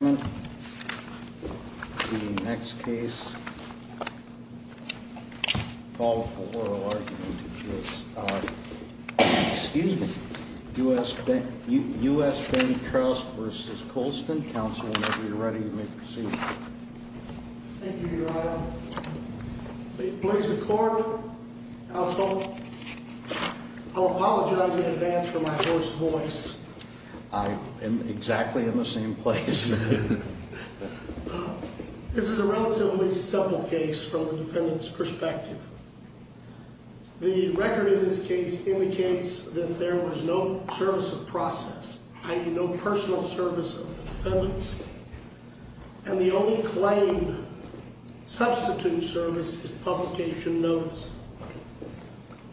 The next case is U.S. Benny Krauss v. Colston, counsel, whenever you're ready, you may proceed. Thank you, Your Honor. Please accord, counsel, I'll apologize in advance for my hoarse voice. I am exactly in the same place. This is a relatively simple case from the defendant's perspective. The record in this case indicates that there was no service of process, i.e. no personal service of the defendant. And the only claimed substitute service is publication notes.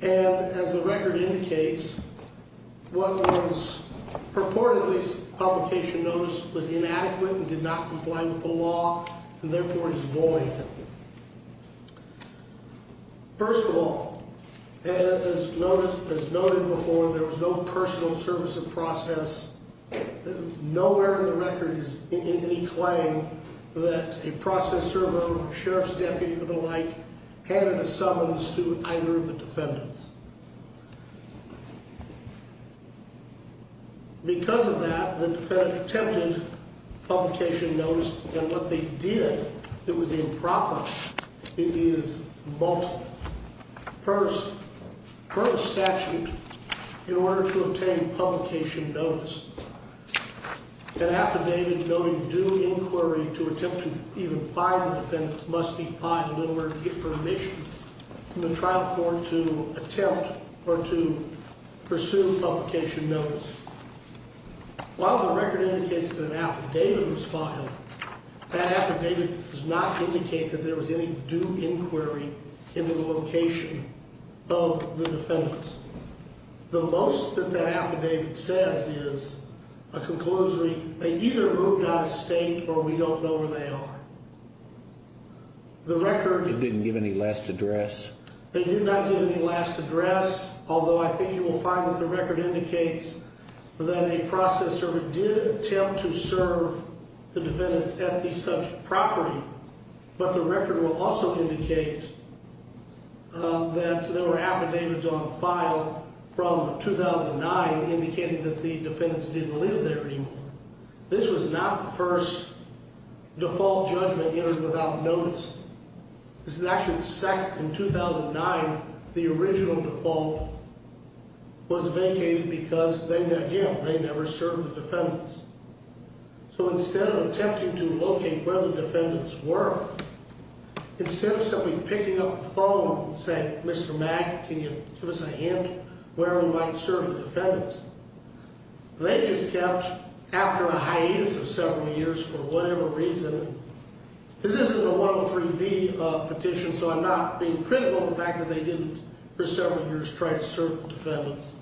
And as the record indicates, what was purportedly publication notice was inadequate and did not comply with the law and therefore is void. First of all, as noted before, there was no personal service of process. Nowhere in the record is any claim that a process server or sheriff's deputy or the like handed a summons to either of the defendants. Because of that, the defendant attempted publication notice, and what they did that was improper is multiple. First, per the statute, in order to obtain publication notice, an affidavit noting due inquiry to attempt to even find the defendant must be filed in order to get permission from the trial court to attempt or to pursue publication notice. While the record indicates that an affidavit was filed, that affidavit does not indicate that there was any due inquiry into the location of the defendants. The most that that affidavit says is a conclusory, they either moved out of state or we don't know where they are. The record didn't give any last address. They did not give any last address, although I think you will find that the record indicates that a process server did attempt to serve the defendants at the such property. But the record will also indicate that there were affidavits on file from 2009 indicating that the defendants didn't live there anymore. This was not the first default judgment entered without notice. This is actually the second. In 2009, the original default was vacated because, again, they never served the defendants. So instead of attempting to locate where the defendants were, instead of simply picking up the phone and saying, Mr. Mack, can you give us a hint where we might serve the defendants, they just kept after a hiatus of several years for whatever reason. This isn't a 103B petition, so I'm not being critical of the fact that they didn't for several years try to serve the defendants.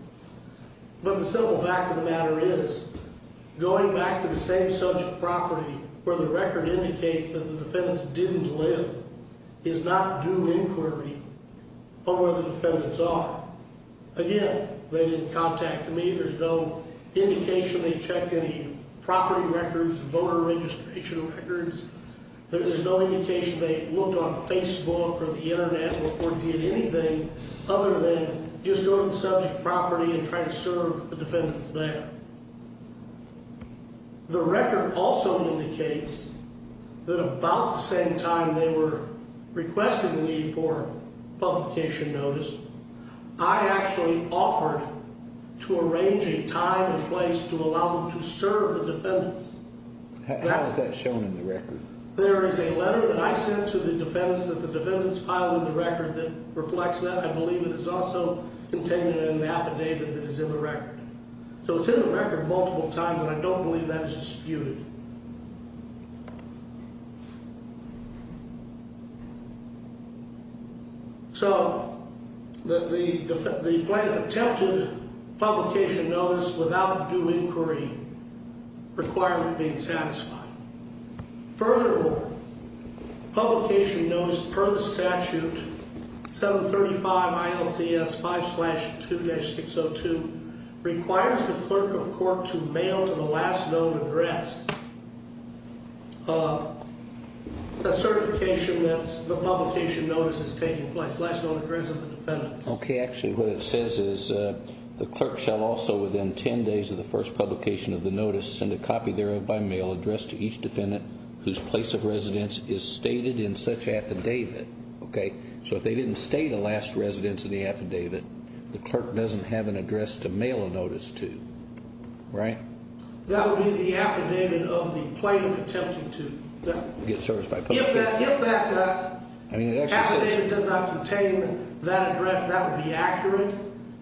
But the simple fact of the matter is going back to the same such property where the record indicates that the defendants didn't live is not due inquiry on where the defendants are. Again, they didn't contact me. There's no indication they checked any property records, voter registration records. There's no indication they looked on Facebook or the Internet or did anything other than just go to the subject property and try to serve the defendants there. The record also indicates that about the same time they were requesting leave for publication notice, I actually offered to arrange a time and place to allow them to serve the defendants. How is that shown in the record? There is a letter that I sent to the defendants that the defendants filed in the record that reflects that. I believe it is also contained in an affidavit that is in the record. So it's in the record multiple times, and I don't believe that is disputed. So the plaintiff attempted publication notice without due inquiry requirement being satisfied. Furthermore, publication notice per the statute 735 ILCS 5-2-602 requires the clerk of court to mail to the last known address a certification that the publication notice is taking place, last known address of the defendants. Okay, actually what it says is the clerk shall also within 10 days of the first publication of the notice send a copy thereof by mail addressed to each defendant whose place of residence is stated in such affidavit. Okay, so if they didn't state a last residence in the affidavit, the clerk doesn't have an address to mail a notice to, right? That would be the affidavit of the plaintiff attempting to get service by publication notice. If that affidavit does not contain that address, that would be accurate.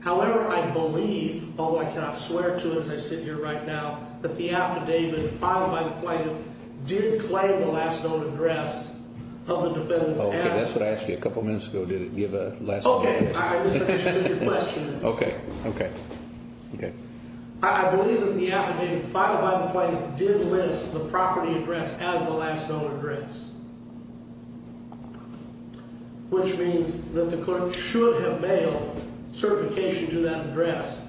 However, I believe, although I cannot swear to it as I sit here right now, that the affidavit filed by the plaintiff did claim the last known address of the defendants. Okay, that's what I asked you a couple minutes ago, did it give a last known address? Okay, I misunderstood your question. Okay, okay, okay. I believe that the affidavit filed by the plaintiff did list the property address as the last known address, which means that the clerk should have mailed certification to that address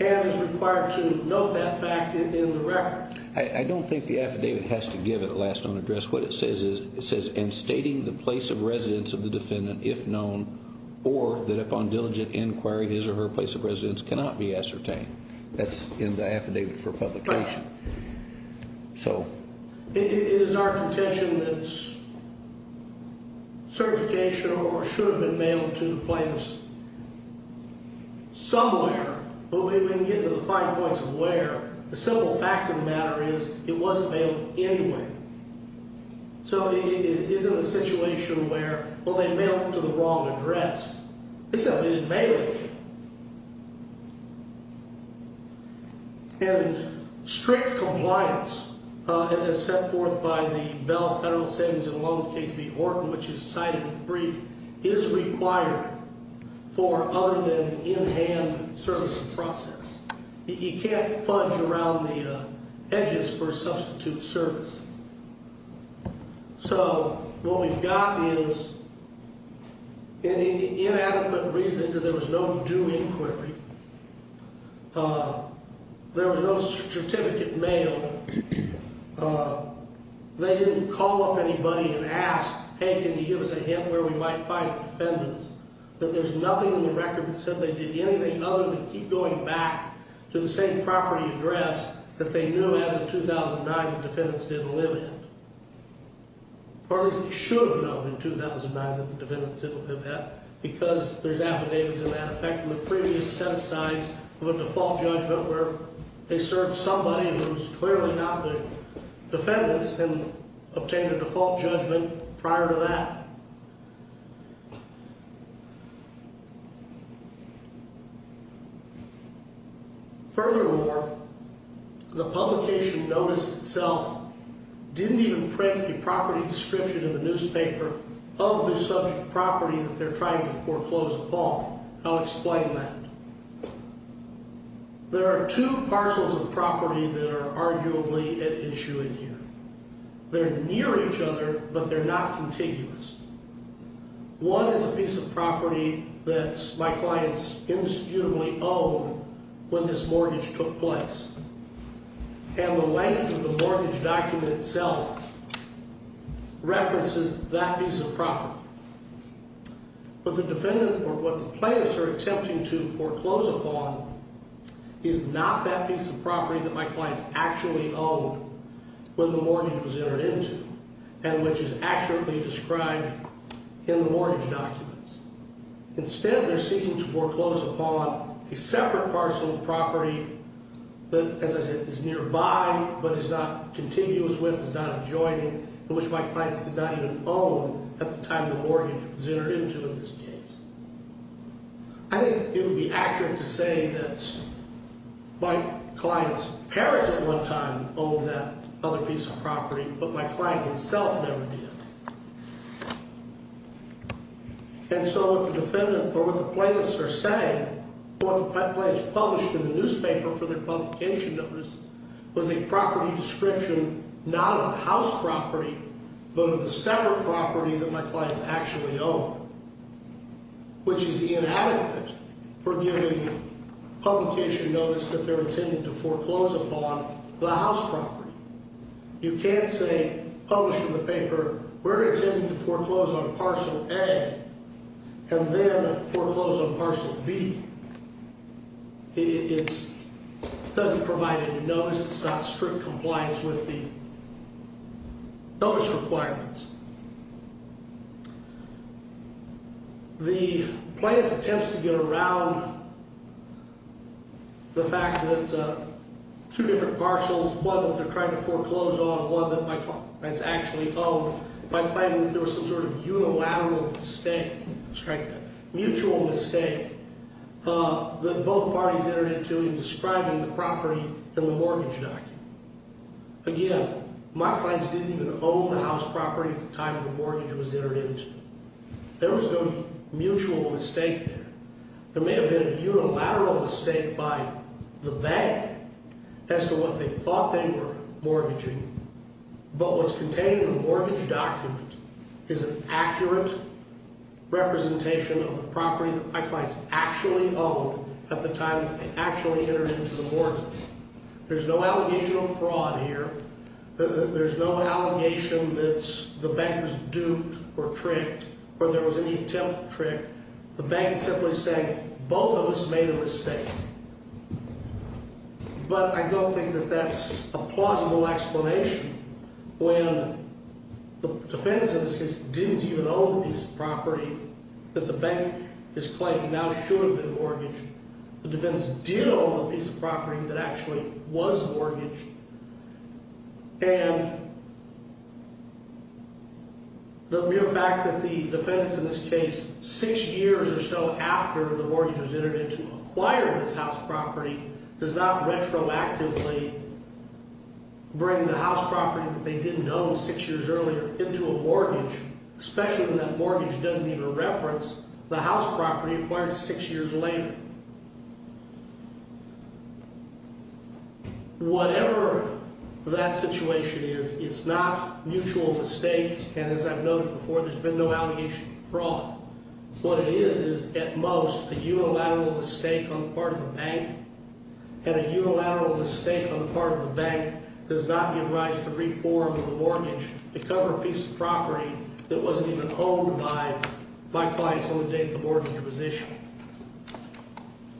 and is required to note that fact in the record. I don't think the affidavit has to give it a last known address. What it says is, it says, and stating the place of residence of the defendant, if known, or that upon diligent inquiry, his or her place of residence cannot be ascertained. That's in the affidavit for publication. Right. So. It is our contention that certification or should have been mailed to the plaintiff somewhere, but we can get to the fine points of where. The simple fact of the matter is, it wasn't mailed anywhere. So it isn't a situation where, well, they mailed it to the wrong address. It's a mailed affidavit. And strict compliance as set forth by the Bell Federal Savings and Loan Case v. Horton, which is cited in the brief, is required for other than in-hand service and process. You can't fudge around the edges for substitute service. So what we've got is an inadequate reason because there was no due inquiry. There was no certificate mailed. They didn't call up anybody and ask, hey, can you give us a hint where we might find the defendants? That there's nothing in the record that said they did anything other than keep going back to the same property address that they knew as of 2009 the defendants didn't live in. Or at least they should have known in 2009 that the defendants didn't live there because there's affidavits in that effect. And they should have known in 2009 that the defendants didn't live there because there's affidavits in that effect. And they should have known in 2009 that the defendants didn't live there because there's affidavits in that effect. There are two parcels of property that are arguably at issue in here. They're near each other, but they're not contiguous. One is a piece of property that my clients indisputably owned when this mortgage took place. And the length of the mortgage document itself references that piece of property. But what the plaintiffs are attempting to foreclose upon is not that piece of property that my clients actually owned when the mortgage was entered into. And which is accurately described in the mortgage documents. Instead, they're seeking to foreclose upon a separate parcel of property that, as I said, is nearby, but is not contiguous with, is not adjoining, and which my clients did not even own at the time the mortgage was entered into in this case. I think it would be accurate to say that my client's parents at one time owned that other piece of property, but my client himself never did. And so what the defendant, or what the plaintiffs are saying, what the plaintiffs published in the newspaper for their publication notice was a property description not of the house property, but of the separate property that my clients actually owned, which is the inadequate for giving publication notice that they're intending to foreclose upon the house property. You can't say, published in the paper, we're intending to foreclose on parcel A and then foreclose on parcel B. It doesn't provide any notice. It's not strict compliance with the notice requirements. The plaintiff attempts to get around the fact that two different parcels, one that they're trying to foreclose on, one that my client's actually owned, by claiming that there was some sort of unilateral mistake, mutual mistake, that both parties entered into in describing the property in the mortgage document. Again, my clients didn't even own the house property at the time the mortgage was entered into. There was no mutual mistake there. There may have been a unilateral mistake by the bank as to what they thought they were mortgaging, but what's contained in the mortgage document is an accurate representation of the property that my clients actually owned at the time that they actually entered into the mortgage. There's no allegation of fraud here. There's no allegation that the bank was duped or tricked or there was any attempt to trick. The bank is simply saying both of us made a mistake. But I don't think that that's a plausible explanation when the defendants in this case didn't even own the piece of property that the bank is claiming now should have been mortgaged. The defendants did own the piece of property that actually was mortgaged. And the mere fact that the defendants in this case, six years or so after the mortgage was entered into, acquired this house property does not retroactively bring the house property that they didn't own six years earlier into a mortgage, especially when that mortgage doesn't even reference the house property acquired six years later. Whatever that situation is, it's not mutual mistake. And as I've noted before, there's been no allegation of fraud. What it is is at most a unilateral mistake on the part of the bank. And a unilateral mistake on the part of the bank does not give rise to reform of the mortgage to cover a piece of property that wasn't even owned by my client until the date the mortgage was issued.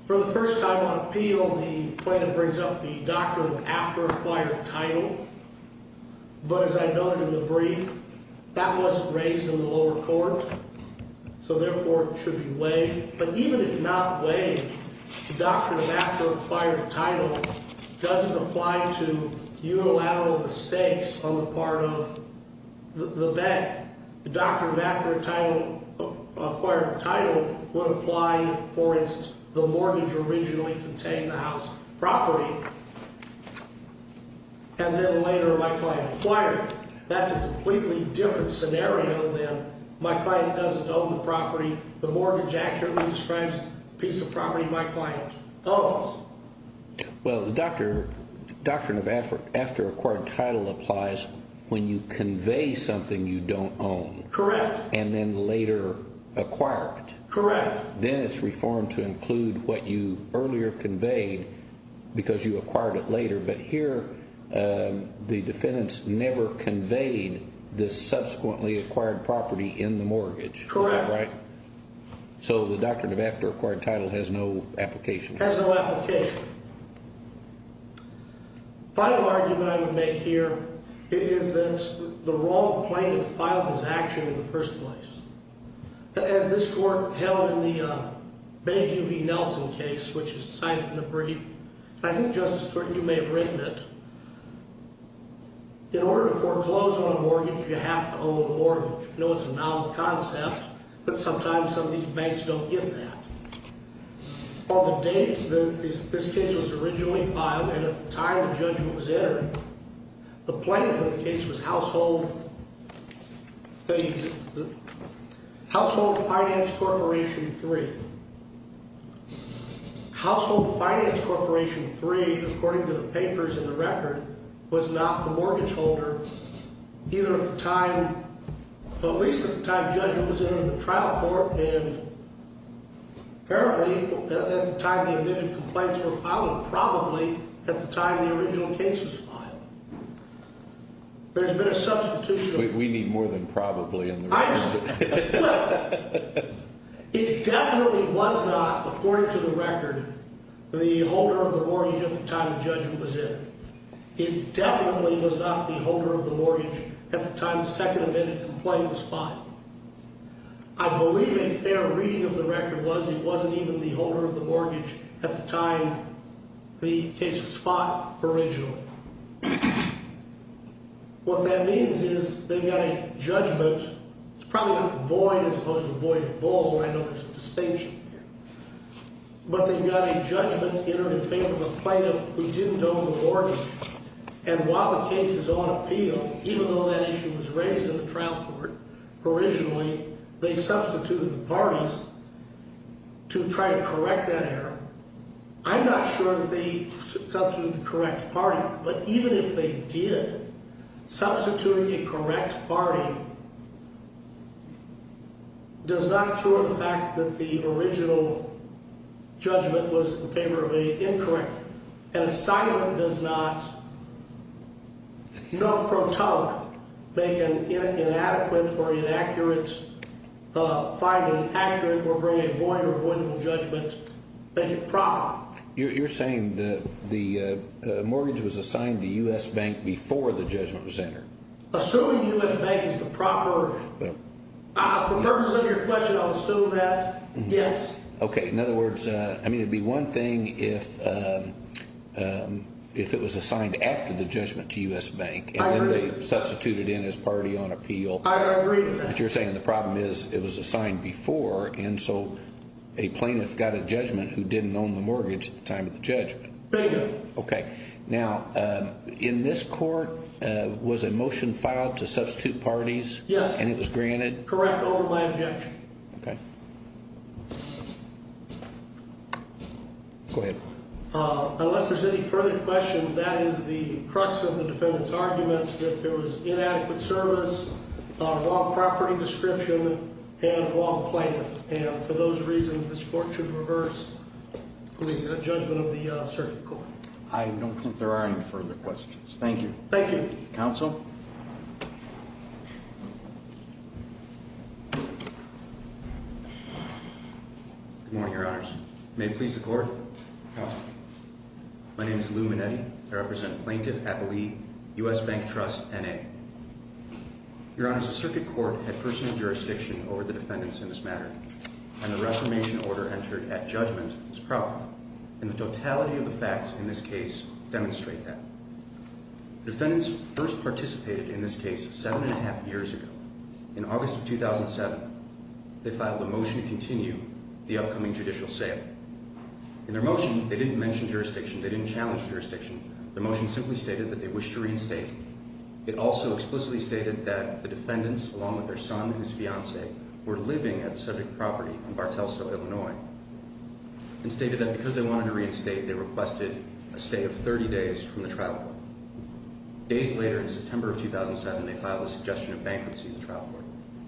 For the first time on appeal, the plaintiff brings up the doctrine of after acquired title. But as I noted in the brief, that wasn't raised in the lower court. So therefore, it should be weighed. But even if not weighed, the doctrine of after acquired title doesn't apply to unilateral mistakes on the part of the bank. The doctrine of after acquired title would apply, for instance, the mortgage originally contained the house property, and then later my client acquired it. That's a completely different scenario than my client doesn't own the property. The mortgage accurately describes the piece of property my client owns. Well, the doctrine of after acquired title applies when you convey something you don't own. Correct. And then later acquire it. Correct. Then it's reformed to include what you earlier conveyed because you acquired it later. But here the defendants never conveyed the subsequently acquired property in the mortgage. Correct. Is that right? So the doctrine of after acquired title has no application. Has no application. Final argument I would make here is that the wrong plaintiff filed his action in the first place. As this court held in the Benneview v. Nelson case, which is cited in the brief, and I think, Justice Thornton, you may have written it, in order to foreclose on a mortgage, you have to own a mortgage. I know it's a novel concept, but sometimes some of these banks don't give that. On the date that this case was originally filed and at the time the judgment was entered, the plaintiff in the case was Household Finance Corporation III. Household Finance Corporation III, according to the papers in the record, was not the mortgage holder either at the time, at least at the time judgment was entered in the trial court, and apparently at the time the admitted complaints were filed, probably at the time the original case was filed. There's been a substitution. We need more than probably in the record. Look, it definitely was not, according to the record, the holder of the mortgage at the time the judgment was entered. It definitely was not the holder of the mortgage at the time the second admitted complaint was filed. I believe a fair reading of the record was it wasn't even the holder of the mortgage at the time the case was filed, original. What that means is they've got a judgment. It's probably a void as opposed to a void of gold. I know there's a distinction here. But they've got a judgment entered in favor of a plaintiff who didn't own the mortgage, and while the case is on appeal, even though that issue was raised in the trial court, originally they substituted the parties to try to correct that error. I'm not sure that they substituted the correct party, but even if they did, substituting a correct party does not cure the fact that the original judgment was in favor of a incorrect. An assignment does not, you know, make an inadequate or inaccurate finding accurate or bring a void or avoidable judgment. Make it proper. You're saying that the mortgage was assigned to U.S. Bank before the judgment was entered. Assuming U.S. Bank is the proper, for purposes of your question, I'll assume that, yes. Okay. In other words, I mean, it would be one thing if it was assigned after the judgment to U.S. Bank, and then they substituted in as party on appeal. I agree with that. But you're saying the problem is it was assigned before, and so a plaintiff got a judgment who didn't own the mortgage at the time of the judgment. They did. Okay. Now, in this court, was a motion filed to substitute parties? Yes. And it was granted? Correct, over my objection. Okay. Go ahead. Unless there's any further questions, that is the crux of the defendant's argument, that there was inadequate service on a wrong property description and wrong plaintiff. And for those reasons, this court should reverse the judgment of the circuit court. I don't think there are any further questions. Thank you. Thank you. Counsel? Good morning, Your Honors. May it please the Court? Counsel. My name is Lou Manetti. I represent Plaintiff Appellee, U.S. Bank Trust, N.A. Your Honors, the circuit court had personal jurisdiction over the defendants in this matter, and the reformation order entered at judgment was proper, and the totality of the facts in this case demonstrate that. The defendants first participated in the judgment, participated in this case seven and a half years ago. In August of 2007, they filed a motion to continue the upcoming judicial sale. In their motion, they didn't mention jurisdiction. They didn't challenge jurisdiction. Their motion simply stated that they wished to reinstate. It also explicitly stated that the defendants, along with their son and his fiancee, were living at the subject property in Bartelsville, Illinois, and stated that because they wanted to reinstate, they requested a stay of 30 days from the trial. Days later, in September of 2007, they filed a suggestion of bankruptcy in the trial court.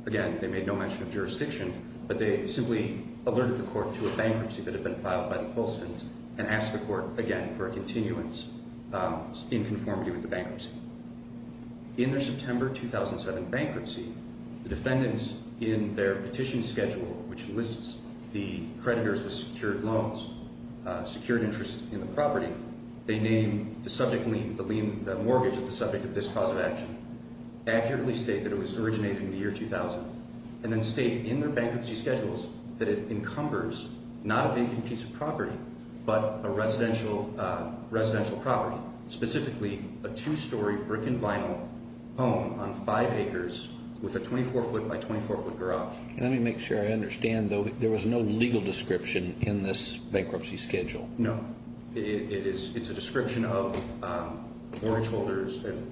Again, they made no mention of jurisdiction, but they simply alerted the court to a bankruptcy that had been filed by the Colstons and asked the court again for a continuance in conformity with the bankruptcy. In their September 2007 bankruptcy, the defendants, in their petition schedule, which lists the creditors with secured loans, secured interest in the property, they name the subject mortgage as the subject of this cause of action, accurately state that it was originated in the year 2000, and then state in their bankruptcy schedules that it encumbers not a vacant piece of property but a residential property, specifically a two-story brick-and-vinyl home on five acres with a 24-foot by 24-foot garage. Let me make sure I understand, though. There was no legal description in this bankruptcy schedule. No. It's a description of mortgage holders and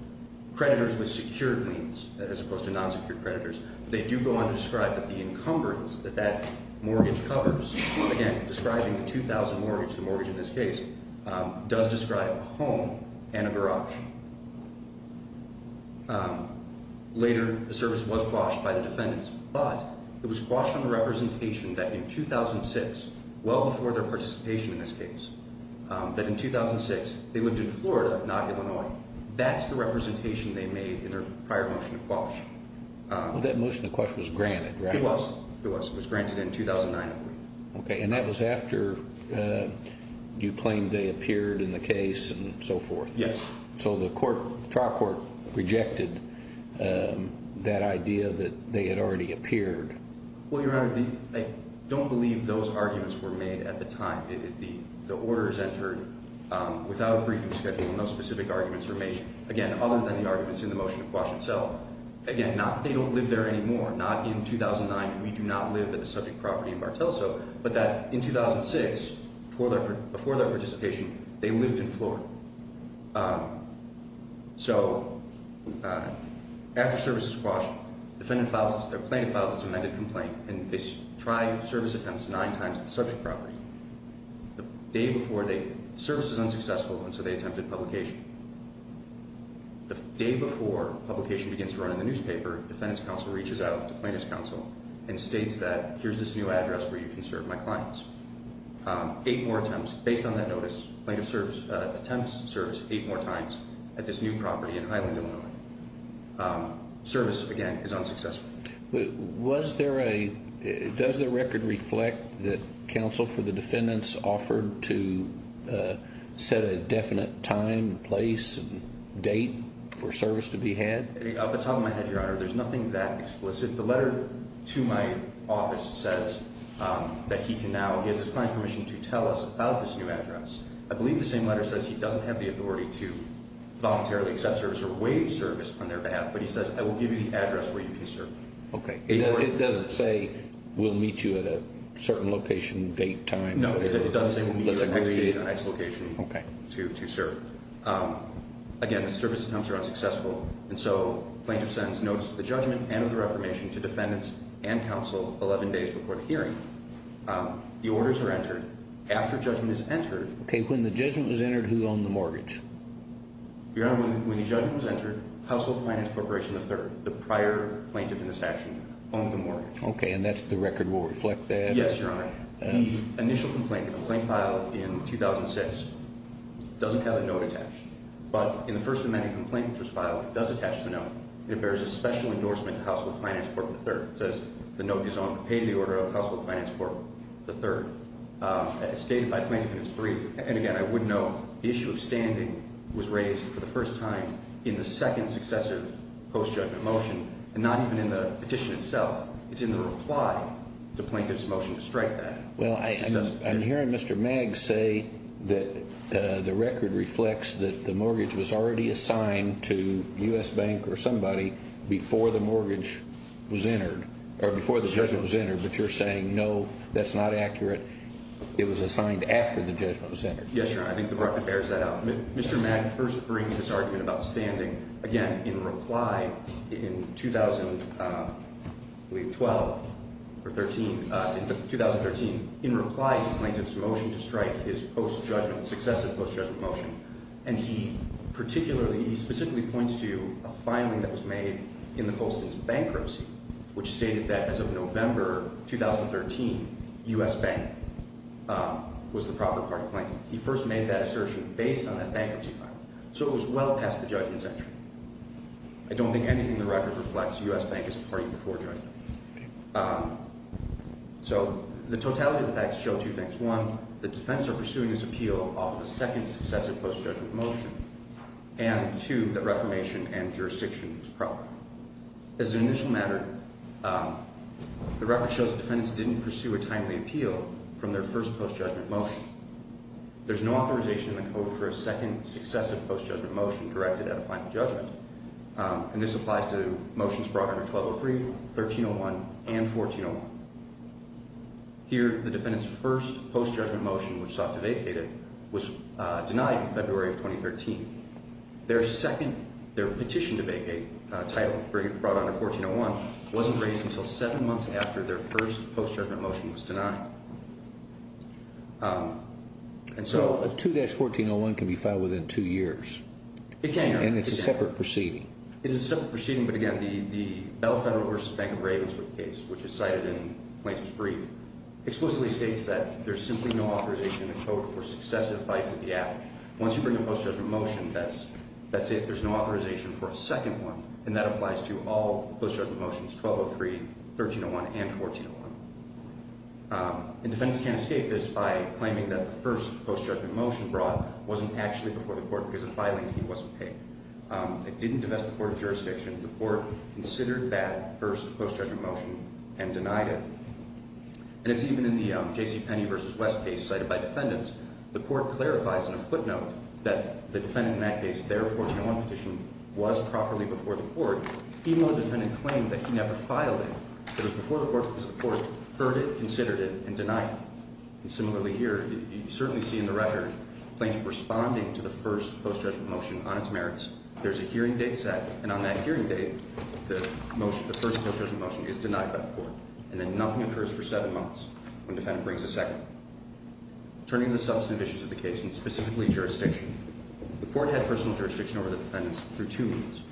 creditors with secured liens as opposed to non-secured creditors. They do go on to describe that the encumbrance that that mortgage covers, again, describing the 2000 mortgage, the mortgage in this case, does describe a home and a garage. Later, the service was quashed by the defendants, but it was quashed on the representation that in 2006, well before their participation in this case, that in 2006 they lived in Florida, not Illinois. That's the representation they made in their prior motion to quash. That motion to quash was granted, right? It was. It was granted in 2009. And that was after you claimed they appeared in the case and so forth. Yes. So the trial court rejected that idea that they had already appeared. Well, Your Honor, I don't believe those arguments were made at the time. The order is entered without a briefing schedule. No specific arguments were made, again, other than the arguments in the motion to quash itself. Again, not that they don't live there anymore, not in 2009. We do not live at the subject property in Bartelso. But that in 2006, before their participation, they lived in Florida. So after the service was quashed, the plaintiff files its amended complaint and they try service attempts nine times at the subject property. The day before, the service was unsuccessful, and so they attempted publication. The day before publication begins to run in the newspaper, the defendant's counsel reaches out to the plaintiff's counsel and states that here's this new address where you can serve my clients. Eight more attempts based on that notice. The plaintiff attempts service eight more times at this new property in Highland, Illinois. Service, again, is unsuccessful. Does the record reflect that counsel for the defendants offered to set a definite time, place, date for service to be had? Off the top of my head, Your Honor, there's nothing that explicit. The letter to my office says that he can now, he has his client's permission to tell us about this new address. I believe the same letter says he doesn't have the authority to voluntarily accept service or waive service on their behalf, but he says, I will give you the address where you can serve. Okay. It doesn't say we'll meet you at a certain location, date, time? No, it doesn't say we'll meet you at a nice location to serve. Again, the service attempts are unsuccessful, and so the plaintiff sends notes of the judgment and of the reformation to defendants and counsel 11 days before the hearing. The orders are entered. After judgment is entered. Okay. When the judgment was entered, who owned the mortgage? Your Honor, when the judgment was entered, Household Finance Corporation III, the prior plaintiff in this action, owned the mortgage. Okay. And the record will reflect that? Yes, Your Honor. The initial complaint, the complaint filed in 2006, doesn't have a note attached. But in the First Amendment complaint which was filed, it does attach to the note. It bears a special endorsement to Household Finance Corporation III. It says the note is on pay to the order of Household Finance Corporation III. It's dated by plaintiff and it's brief. And, again, I would note the issue of standing was raised for the first time in the second successive post-judgment motion and not even in the petition itself. It's in the reply to plaintiff's motion to strike that. Well, I'm hearing Mr. Maggs say that the record reflects that the mortgage was already assigned to U.S. Bank or somebody before the mortgage was entered, or before the judgment was entered. But you're saying, no, that's not accurate. It was assigned after the judgment was entered. Yes, Your Honor. I think the record bears that out. Mr. Maggs first brings this argument about standing, again, in reply in 2012 or 2013. In reply to plaintiff's motion to strike his post-judgment, successive post-judgment motion. And he specifically points to a filing that was made in the Post's bankruptcy, which stated that as of November 2013, U.S. Bank was the proper party plaintiff. He first made that assertion based on that bankruptcy filing. So it was well past the judgment's entry. I don't think anything in the record reflects U.S. Bank as a party before judgment. So the totality of the facts show two things. One, the defendants are pursuing this appeal off of a second successive post-judgment motion. And two, that reformation and jurisdiction was proper. As an initial matter, the record shows the defendants didn't pursue a timely appeal from their first post-judgment motion. There's no authorization in the code for a second successive post-judgment motion directed at a final judgment. And this applies to motions brought under 1203, 1301, and 1401. Here, the defendants' first post-judgment motion, which sought to vacate it, was denied in February of 2013. Their petition to vacate title brought under 1401 wasn't raised until seven months after their first post-judgment motion was denied. So a 2-1401 can be filed within two years. It can. And it's a separate proceeding. It is a separate proceeding, but again, the Bell Federal v. Bank of Ravenswood case, which is cited in plaintiff's brief, explicitly states that there's simply no authorization in the code for successive bites of the apple. Once you bring a post-judgment motion, that's it. There's no authorization for a second one. And that applies to all post-judgment motions, 1203, 1301, and 1401. And defendants can't escape this by claiming that the first post-judgment motion brought wasn't actually before the court because the filing fee wasn't paid. It didn't divest the court of jurisdiction. The court considered that first post-judgment motion and denied it. And it's even in the J.C. Penney v. West case cited by defendants. The court clarifies in a footnote that the defendant in that case, their 1401 petition was properly before the court, even though the defendant claimed that he never filed it. It was before the court because the court heard it, considered it, and denied it. And similarly here, you certainly see in the record, plaintiff responding to the first post-judgment motion on its merits. There's a hearing date set, and on that hearing date, the first post-judgment motion is denied by the court. And then nothing occurs for seven months when the defendant brings a second one. Turning to the substantive issues of the case, and specifically jurisdiction, the court had personal jurisdiction over the defendants through two means.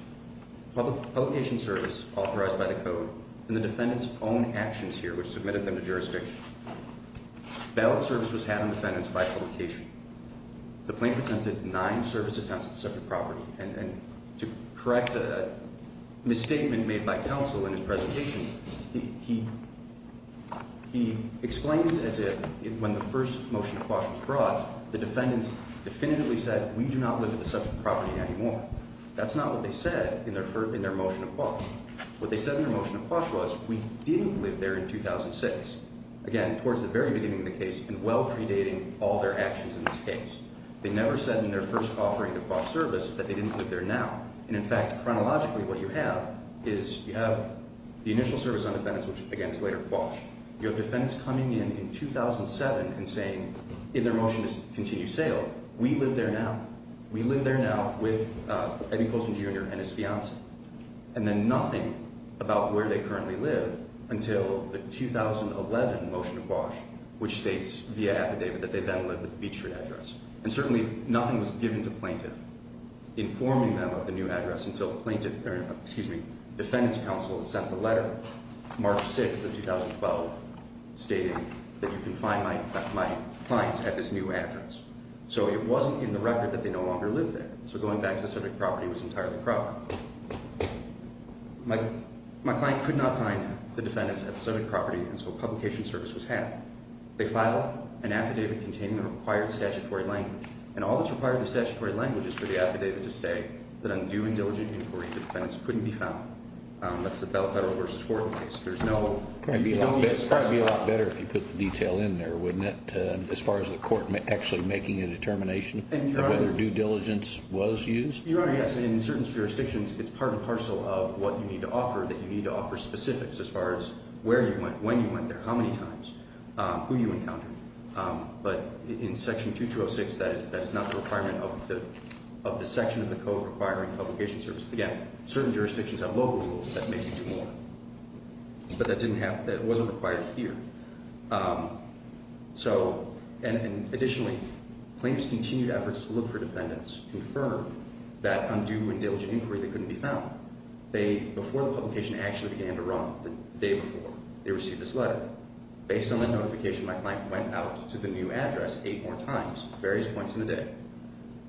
Publication service authorized by the code, and the defendants' own actions here which submitted them to jurisdiction. Ballot service was had on defendants by publication. The plaintiff attempted nine service attempts at the subject property. And to correct a misstatement made by counsel in his presentation, he explains as if when the first motion of quash was brought, the defendants definitively said, we do not live at the subject property anymore. What they said in their motion of quash was, we didn't live there in 2006. Again, towards the very beginning of the case, and well predating all their actions in this case. They never said in their first offering to quash service that they didn't live there now. And in fact, chronologically, what you have is you have the initial service on defendants against later quash. You have defendants coming in in 2007 and saying in their motion to continue sale, we live there now. We live there now with Eddie Colson Jr. and his fiance. And then nothing about where they currently live until the 2011 motion of quash, which states via affidavit that they then lived at the Beach Street address. And certainly nothing was given to plaintiff informing them of the new address until plaintiff, excuse me, defendants counsel sent the letter March 6th of 2012 stating that you can find my clients at this new address. So it wasn't in the record that they no longer lived there. So going back to the subject property was entirely proper. My client could not find the defendants at the subject property. And so a publication service was had. They filed an affidavit containing the required statutory language. And all that's required in the statutory language is for the affidavit to say that on due and diligent inquiry the defendants couldn't be found. That's the Bell Federal versus Horton case. There's no- It would be a lot better if you put the detail in there, wouldn't it? As far as the court actually making a determination of whether due diligence was used? Your Honor, yes. In certain jurisdictions it's part and parcel of what you need to offer that you need to offer specifics as far as where you went, when you went there, how many times, who you encountered. But in Section 2206 that is not the requirement of the section of the code requiring publication service. Again, certain jurisdictions have local rules that make you do more. But that wasn't required here. Additionally, claims continued efforts to look for defendants confirmed that on due and diligent inquiry they couldn't be found. Before the publication actually began to run, the day before, they received this letter. Based on that notification, my client went out to the new address eight more times, various points in the day.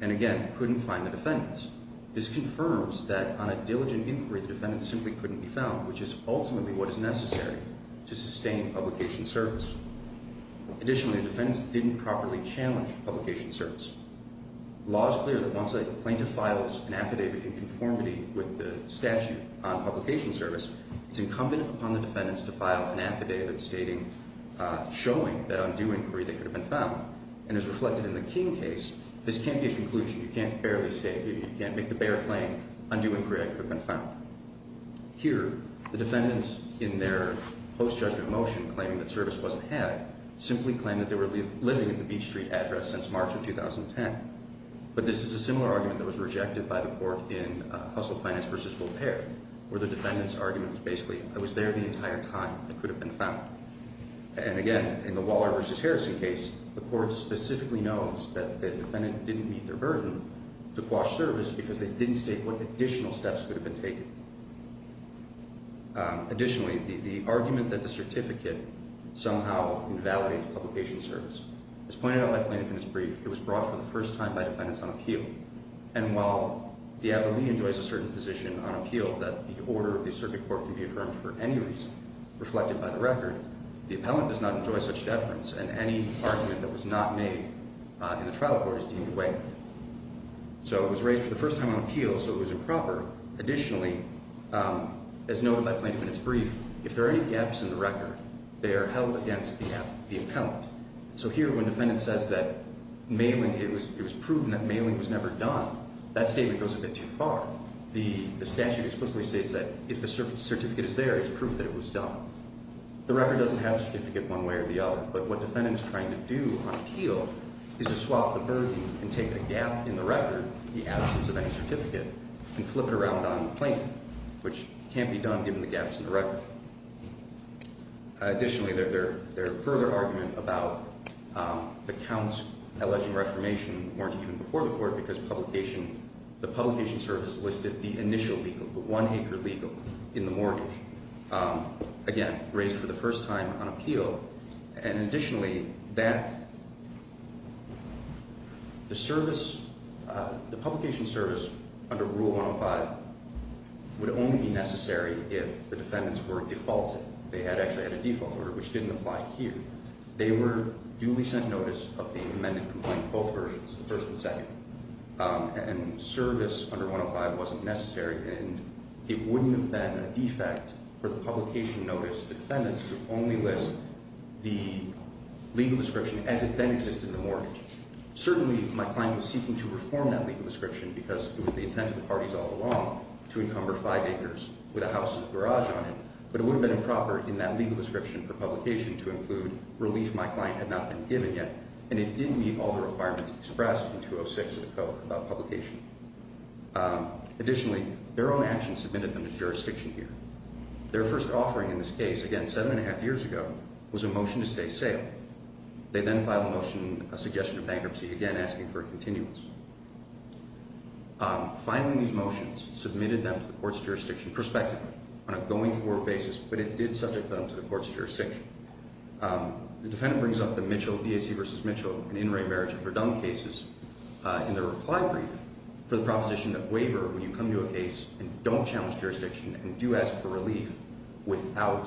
And again, couldn't find the defendants. This confirms that on a diligent inquiry the defendants simply couldn't be found, which is ultimately what is necessary to sustain publication service. Additionally, the defendants didn't properly challenge publication service. Law is clear that once a plaintiff files an affidavit in conformity with the statute on publication service, it's incumbent upon the defendants to file an affidavit showing that on due inquiry they could have been found. And as reflected in the King case, this can't be a conclusion. You can't make the bare claim on due inquiry I could have been found. Here, the defendants in their post-judgment motion claiming that service wasn't had simply claimed that they were living at the Beach Street address since March of 2010. But this is a similar argument that was rejected by the court in Hustle Finance v. Volpare, where the defendant's argument was basically, I was there the entire time I could have been found. And again, in the Waller v. Harrison case, the court specifically knows that the defendant didn't meet their burden to quash service because they didn't state what additional steps could have been taken. Additionally, the argument that the certificate somehow invalidates publication service. As pointed out by plaintiff in his brief, it was brought for the first time by defendants on appeal. And while Diaboli enjoys a certain position on appeal that the order of the circuit court can be affirmed for any reason, reflected by the record, the appellant does not enjoy such deference, and any argument that was not made in the trial court is deemed way. So it was raised for the first time on appeal, so it was improper. Additionally, as noted by plaintiff in his brief, if there are any gaps in the record, they are held against the appellant. So here, when defendant says that it was proven that mailing was never done, that statement goes a bit too far. The statute explicitly states that if the certificate is there, it's proof that it was done. The record doesn't have a certificate one way or the other, but what defendant is trying to do on appeal is to swap the burden and take a gap in the record, the absence of any certificate, and flip it around on the plaintiff, which can't be done given the gaps in the record. Additionally, their further argument about the counts alleging reformation weren't even before the court because the publication service listed the initial legal, the one acre legal in the mortgage. Again, raised for the first time on appeal. Additionally, the publication service under Rule 105 would only be necessary if the defendants were defaulted. They actually had a default order, which didn't apply here. They were duly sent notice of the amended complaint, both versions, the first and second. And service under 105 wasn't necessary, and it wouldn't have been a defect for the publication notice to defendants to only list the legal description as it then existed in the mortgage. Certainly, my client was seeking to reform that legal description because it was the intent of the parties all along to encumber five acres with a house with a garage on it, but it would have been improper in that legal description for publication to include relief my client had not been given yet, and it didn't meet all the requirements expressed in 206 of the code about publication. Additionally, their own actions submitted them to jurisdiction here. Their first offering in this case, again, seven and a half years ago, was a motion to stay sale. They then filed a motion, a suggestion of bankruptcy, again asking for a continuance. Finally, these motions submitted them to the court's jurisdiction prospectively on a going forward basis, but it did subject them to the court's jurisdiction. The defendant brings up the Mitchell, DAC v. Mitchell, and In Re Marriage of Verdun cases in the reply brief for the proposition that waiver, when you come to a case and don't challenge jurisdiction and do ask for relief while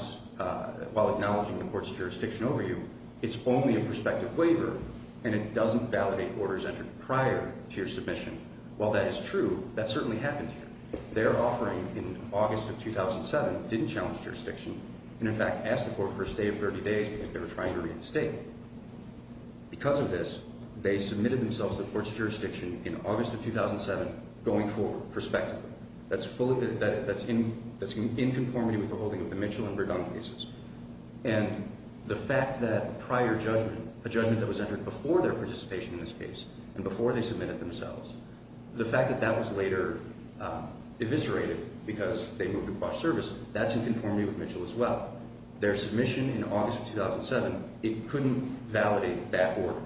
acknowledging the court's jurisdiction over you, it's only a prospective waiver and it doesn't validate orders entered prior to your submission. While that is true, that certainly happened here. Their offering in August of 2007 didn't challenge jurisdiction and, in fact, asked the court for a stay of 30 days because they were trying to reinstate. Because of this, they submitted themselves to the court's jurisdiction in August of 2007 going forward, prospectively. That's in conformity with the holding of the Mitchell and Verdun cases. And the fact that prior judgment, a judgment that was entered before their participation in this case and before they submitted themselves, the fact that that was later eviscerated because they moved across services, that's in conformity with Mitchell as well. Their submission in August of 2007, it couldn't validate that order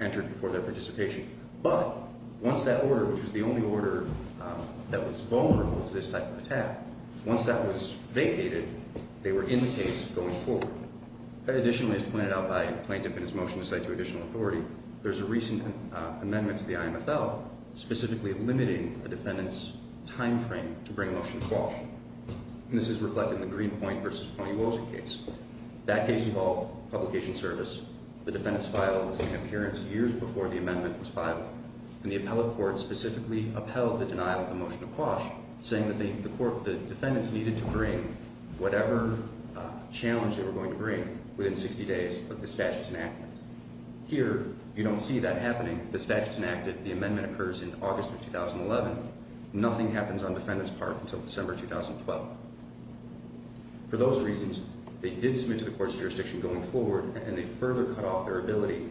entered before their participation. But once that order, which was the only order that was vulnerable to this type of attack, once that was vacated, they were in the case going forward. Additionally, as pointed out by the plaintiff in his motion to cite to additional authority, there's a recent amendment to the IMFL specifically limiting the defendant's time frame to bring a motion to quash. And this is reflected in the Greenpoint v. Pony Wozniak case. That case involved publication service. The defendant's file was made an appearance years before the amendment was filed. And the appellate court specifically upheld the denial of the motion to quash, saying that the court, the defendants needed to bring whatever challenge they were going to bring within 60 days of the statute's enactment. Here, you don't see that happening. The statute's enacted. The amendment occurs in August of 2011. Nothing happens on the defendant's part until December 2012. For those reasons, they did submit to the court's jurisdiction going forward, and they further cut off their ability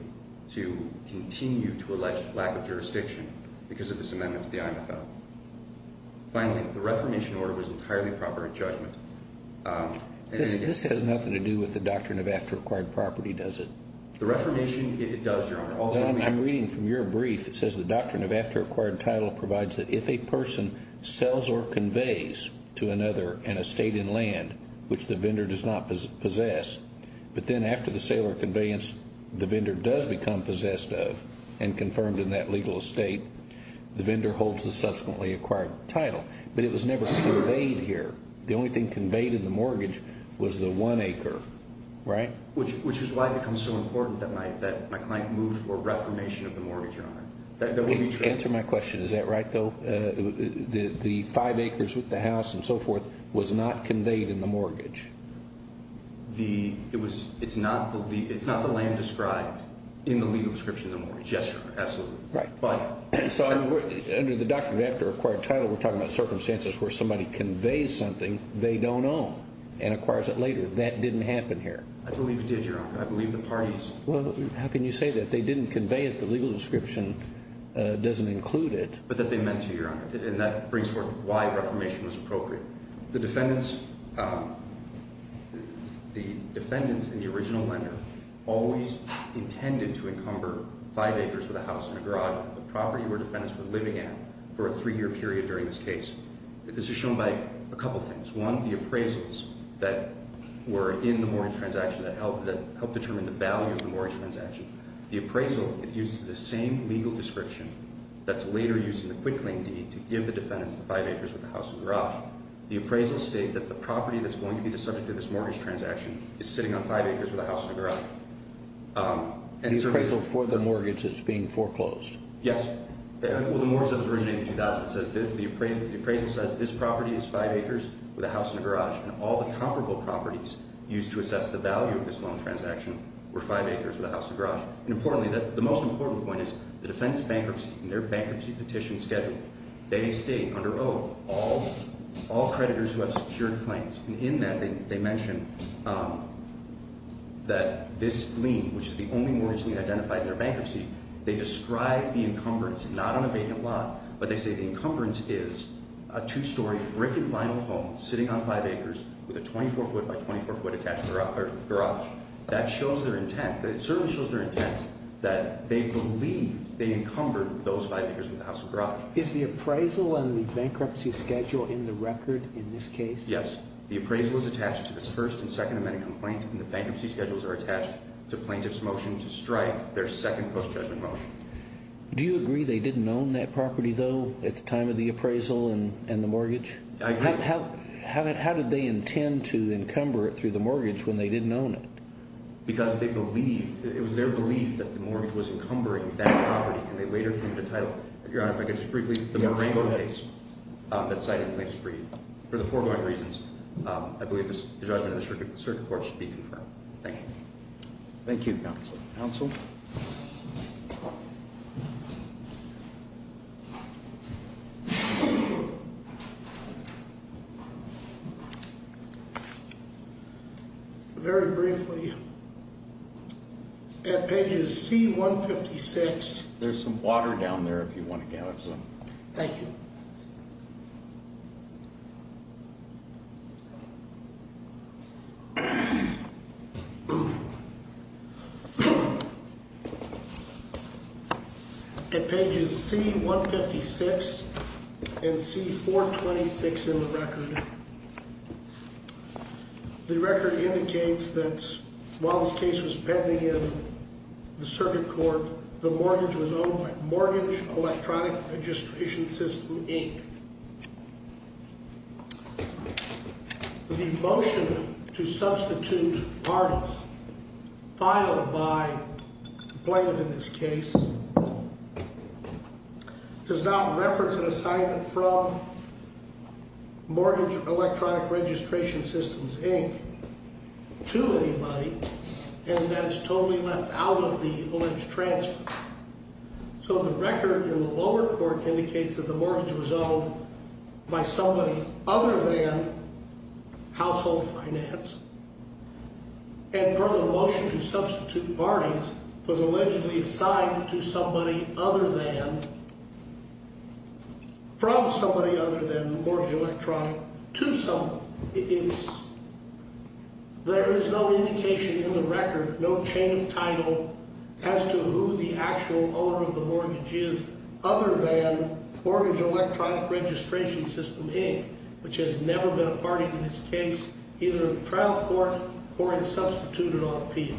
to continue to allege lack of jurisdiction because of this amendment to the IMFL. Finally, the reformation order was entirely proper in judgment. This has nothing to do with the doctrine of after-acquired property, does it? The reformation, it does, Your Honor. I'm reading from your brief. It says the doctrine of after-acquired title provides that if a person sells or conveys to another an estate in land which the vendor does not possess, but then after the sale or conveyance, the vendor does become possessed of and confirmed in that legal estate, the vendor holds the subsequently acquired title. But it was never conveyed here. The only thing conveyed in the mortgage was the one acre, right? Which is why it becomes so important that my client move for reformation of the mortgage, Your Honor. That would be true. Answer my question. Is that right, though? The five acres with the house and so forth was not conveyed in the mortgage. It's not the land described in the legal description of the mortgage. Yes, Your Honor. Absolutely. So under the doctrine of after-acquired title, we're talking about circumstances where somebody conveys something they don't own and acquires it later. That didn't happen here. I believe it did, Your Honor. I believe the parties. Well, how can you say that? They didn't convey it. The legal description doesn't include it. But that they meant to, Your Honor. And that brings forth why reformation was appropriate. The defendants in the original lender always intended to encumber five acres with a house and a garage on the property where defendants were living at for a three-year period during this case. This is shown by a couple of things. One, the appraisals that were in the mortgage transaction that helped determine the value of the mortgage transaction. The appraisal uses the same legal description that's later used in the quit claim deed to give the defendants the five acres with a house and a garage. The appraisals state that the property that's going to be the subject of this mortgage transaction is sitting on five acres with a house and a garage. The appraisal for the mortgage that's being foreclosed. Yes. Well, the mortgage that was originated in 2000 says that the appraisal says this property is five acres with a house and a garage, and all the comparable properties used to assess the value of this loan transaction were five acres with a house and a garage. And importantly, the most important point is the defendants' bankruptcy and their bankruptcy petition schedule. They state under oath all creditors who have secured claims. And in that they mention that this lien, which is the only mortgage lien identified in their bankruptcy, they describe the encumbrance not on a vacant lot, but they say the encumbrance is a two-story brick and vinyl home sitting on five acres with a 24-foot by 24-foot attached garage. That shows their intent. It certainly shows their intent that they believe they encumbered those five acres with a house and a garage. Is the appraisal and the bankruptcy schedule in the record in this case? Yes. The appraisal is attached to this first and second amendment complaint, and the bankruptcy schedules are attached to plaintiff's motion to strike their second post-judgment motion. Do you agree they didn't own that property, though, at the time of the appraisal and the mortgage? I agree. How did they intend to encumber it through the mortgage when they didn't own it? Because they believed, it was their belief that the mortgage was encumbering that property, and they later came to the title. Your Honor, if I could just briefly, the Morango case that's cited in the latest brief, for the foregoing reasons, I believe the judgment of the circuit court should be confirmed. Thank you. Thank you, counsel. Counsel? Very briefly, at pages C-156. There's some water down there if you want to gather some. Thank you. At pages C-156 and C-426 in the record, the record indicates that while this case was pending in the circuit court, the mortgage was owned by Mortgage Electronic Registration System, Inc. The motion to substitute parties filed by plaintiff in this case does not reference an assignment from Mortgage Electronic Registration Systems, Inc. to anybody, and that is totally left out of the Lynch transfer. So the record in the lower court indicates that the mortgage was owned by somebody other than Household Finance, and for the motion to substitute parties was allegedly assigned to somebody other than, from somebody other than Mortgage Electronic, to someone. There is no indication in the record, no chain of title, as to who the actual owner of the mortgage is other than Mortgage Electronic Registration System, Inc., which has never been a party to this case, either in the trial court or in substituting on appeal.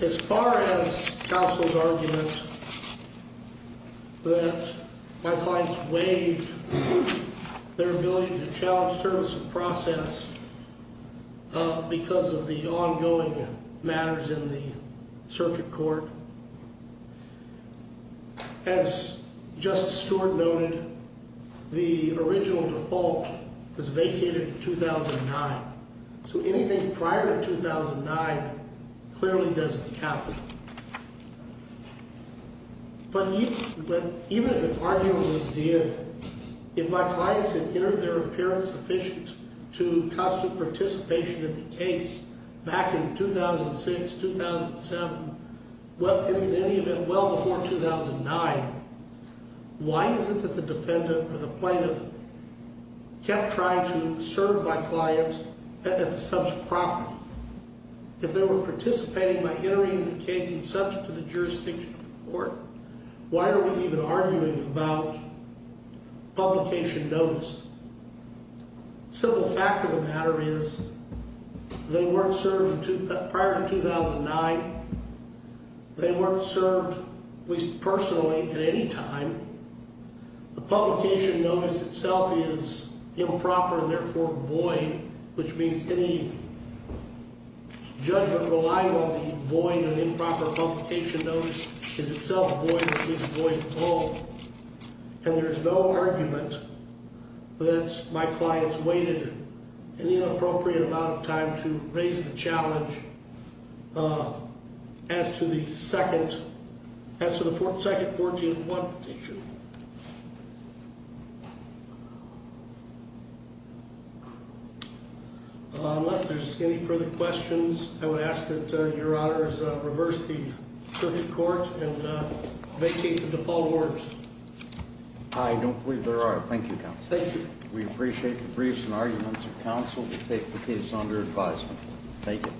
As far as counsel's argument that my clients waived their ability to challenge service of process because of the ongoing matters in the circuit court, as Justice Stewart noted, the original default was vacated in 2009. So anything prior to 2009 clearly doesn't count. But even if it arguably did, if my clients had entered their appearance sufficient to constitute participation in the case back in 2006, 2007, in any event, well before 2009, why is it that the defendant or the plaintiff kept trying to serve my clients at the subject property? If they were participating by entering the case in subject to the jurisdiction of the court, why are we even arguing about publication notice? The simple fact of the matter is they weren't served prior to 2009. They weren't served, at least personally, at any time. The publication notice itself is improper and therefore void, which means any judgment reliant on the void and improper publication notice is itself void or at least void at all. And there is no argument that my clients waited an inappropriate amount of time to raise the challenge as to the second 14-1 petition. Unless there's any further questions, I would ask that Your Honor reverse the circuit court and vacate the default orders. I don't believe there are. Thank you, Counsel. Thank you. We appreciate the briefs and arguments of counsel to take the case under advisement. Thank you.